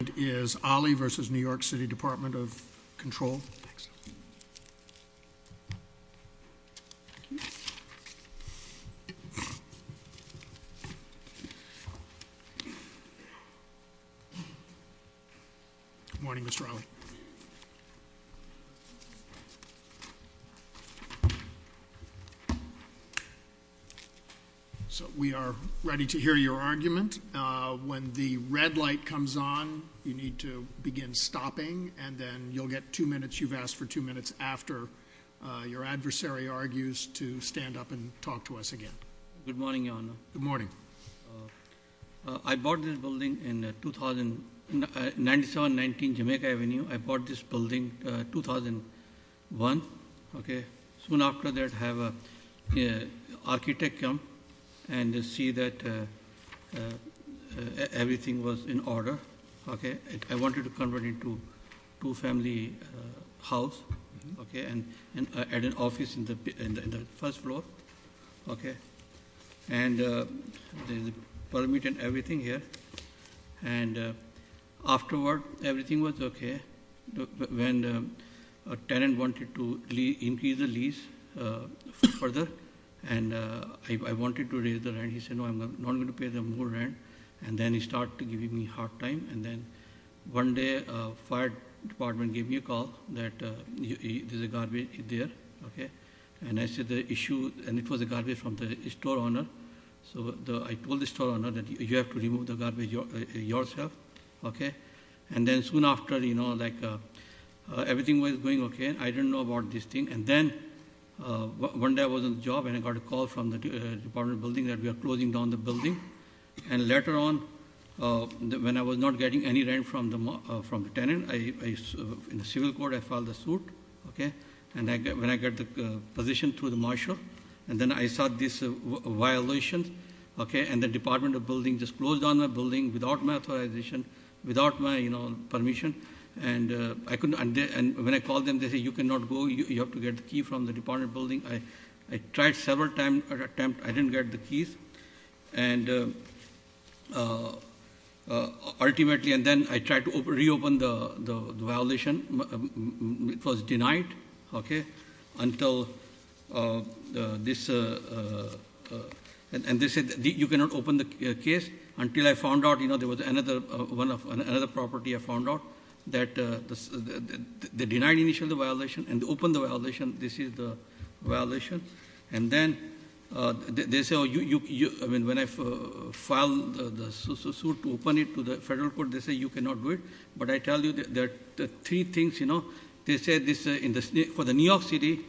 And is Olly v. New York City Department of Control. Thanks. Morning, Mr. Olly. So we are ready to hear your argument. When the red light comes on, you need to begin stopping. And then you'll get two minutes. You've asked for two minutes after your adversary argues to stand up and talk to us again. Good morning, Your Honor. Good morning. I bought this building in 2000, 9719 Jamaica Avenue. I bought this building 2001, okay? Soon after that, I have an architect come and see that everything was in order, okay? I wanted to convert it into a two-family house, okay? And add an office in the first floor, okay? And there's a permit and everything here. And afterward, everything was okay. When a tenant wanted to increase the lease further, and I wanted to raise the rent, he said, no, I'm not going to pay them more rent. And then he started giving me hard time. And then one day, fire department gave me a call that there's a garbage there, okay? And I said the issue, and it was a garbage from the store owner. So I told the store owner that you have to remove the garbage yourself, okay? And then soon after, everything was going okay, I didn't know about this thing. And then one day I was on the job, and I got a call from the department building that we are closing down the building. And later on, when I was not getting any rent from the tenant, in the civil court, I filed a suit, okay? And when I got the position through the marshal, and then I saw this violation, okay? And the department of building just closed down the building without my authorization, without my permission. And when I called them, they said, you cannot go, you have to get the key from the department building. I tried several times, but I didn't get the keys. And ultimately, and then I tried to reopen the violation. It was denied, okay, until this, and they said, you cannot open the case until I found out there was another property I found out. That they denied initially the violation, and they opened the violation, this is the violation. And then, they say, when I filed the suit to open it to the federal court, they say you cannot do it. But I tell you that the three things, they say this for the New York City,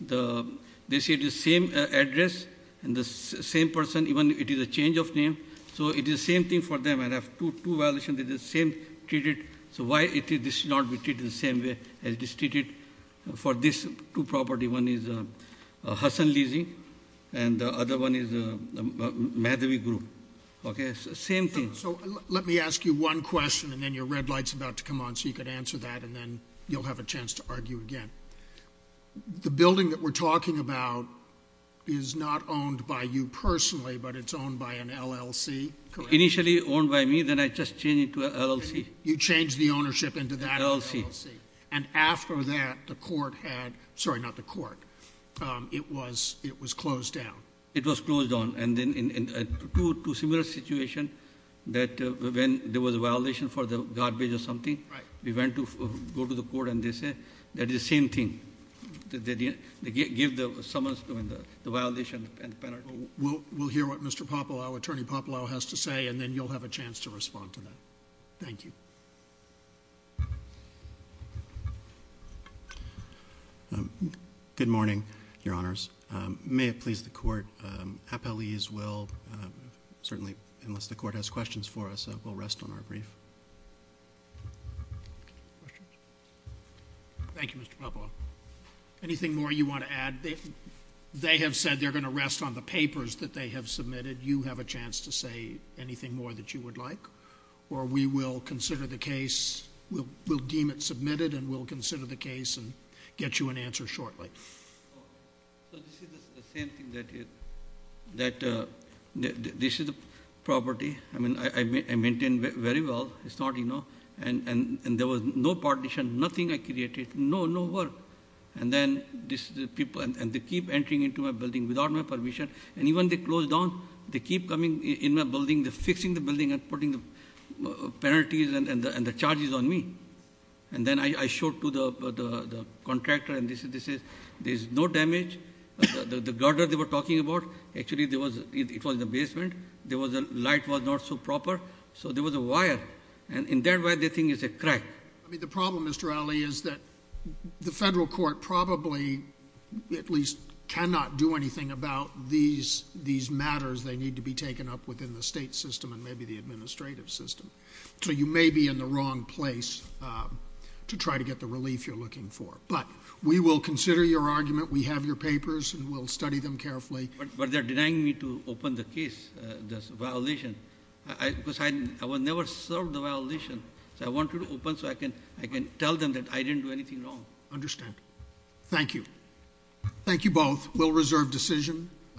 they say the same address, and the same person, even it is a change of name. So it is the same thing for them, and I have two violations, they're the same, treated. So why it is this not treated the same way as it is treated for this two property? One is Hassan Lizzie, and the other one is Madhavi group, okay, same thing. So let me ask you one question, and then your red light's about to come on, so you can answer that, and then you'll have a chance to argue again. The building that we're talking about is not owned by you personally, but it's owned by an LLC, correct? Initially owned by me, then I just changed it to an LLC. You changed the ownership into that LLC. And after that, the court had, sorry, not the court, it was closed down. It was closed down, and then in two similar situations, that when there was a violation for the garbage or something, we went to go to the court and they did the same thing, they give the summons to the violation and penalty. We'll hear what Mr. Popalow, Attorney Popalow has to say, and then you'll have a chance to respond to that. Thank you. Good morning, your honors. May it please the court, appellees will, certainly unless the court has questions for us, will rest on our brief. Thank you, Mr. Popalow. Anything more you want to add? They have said they're going to rest on the papers that they have submitted. You have a chance to say anything more that you would like. Or we will consider the case, we'll deem it submitted, and we'll consider the case and get you an answer shortly. So this is the same thing that this is a property. I mean, I maintain very well, it's not, and there was no partition, nothing I created, no work. And then this people, and they keep entering into my building without my permission. And even they close down, they keep coming in my building, they're fixing the building and putting penalties and the charges on me. And then I showed to the contractor and they said, this is, there's no damage, the garden they were talking about. Actually, it was the basement, the light was not so proper, so there was a wire. And in that wire, the thing is a crack. I mean, the problem, Mr. Ali, is that the federal court probably, at least, cannot do anything about these matters that need to be taken up within the state system and maybe the administrative system. So you may be in the wrong place to try to get the relief you're looking for. But we will consider your argument, we have your papers, and we'll study them carefully. But they're denying me to open the case, this violation, because I will never serve the violation. So I want to open so I can tell them that I didn't do anything wrong. Understand. Thank you. Thank you both. We'll reserve decision.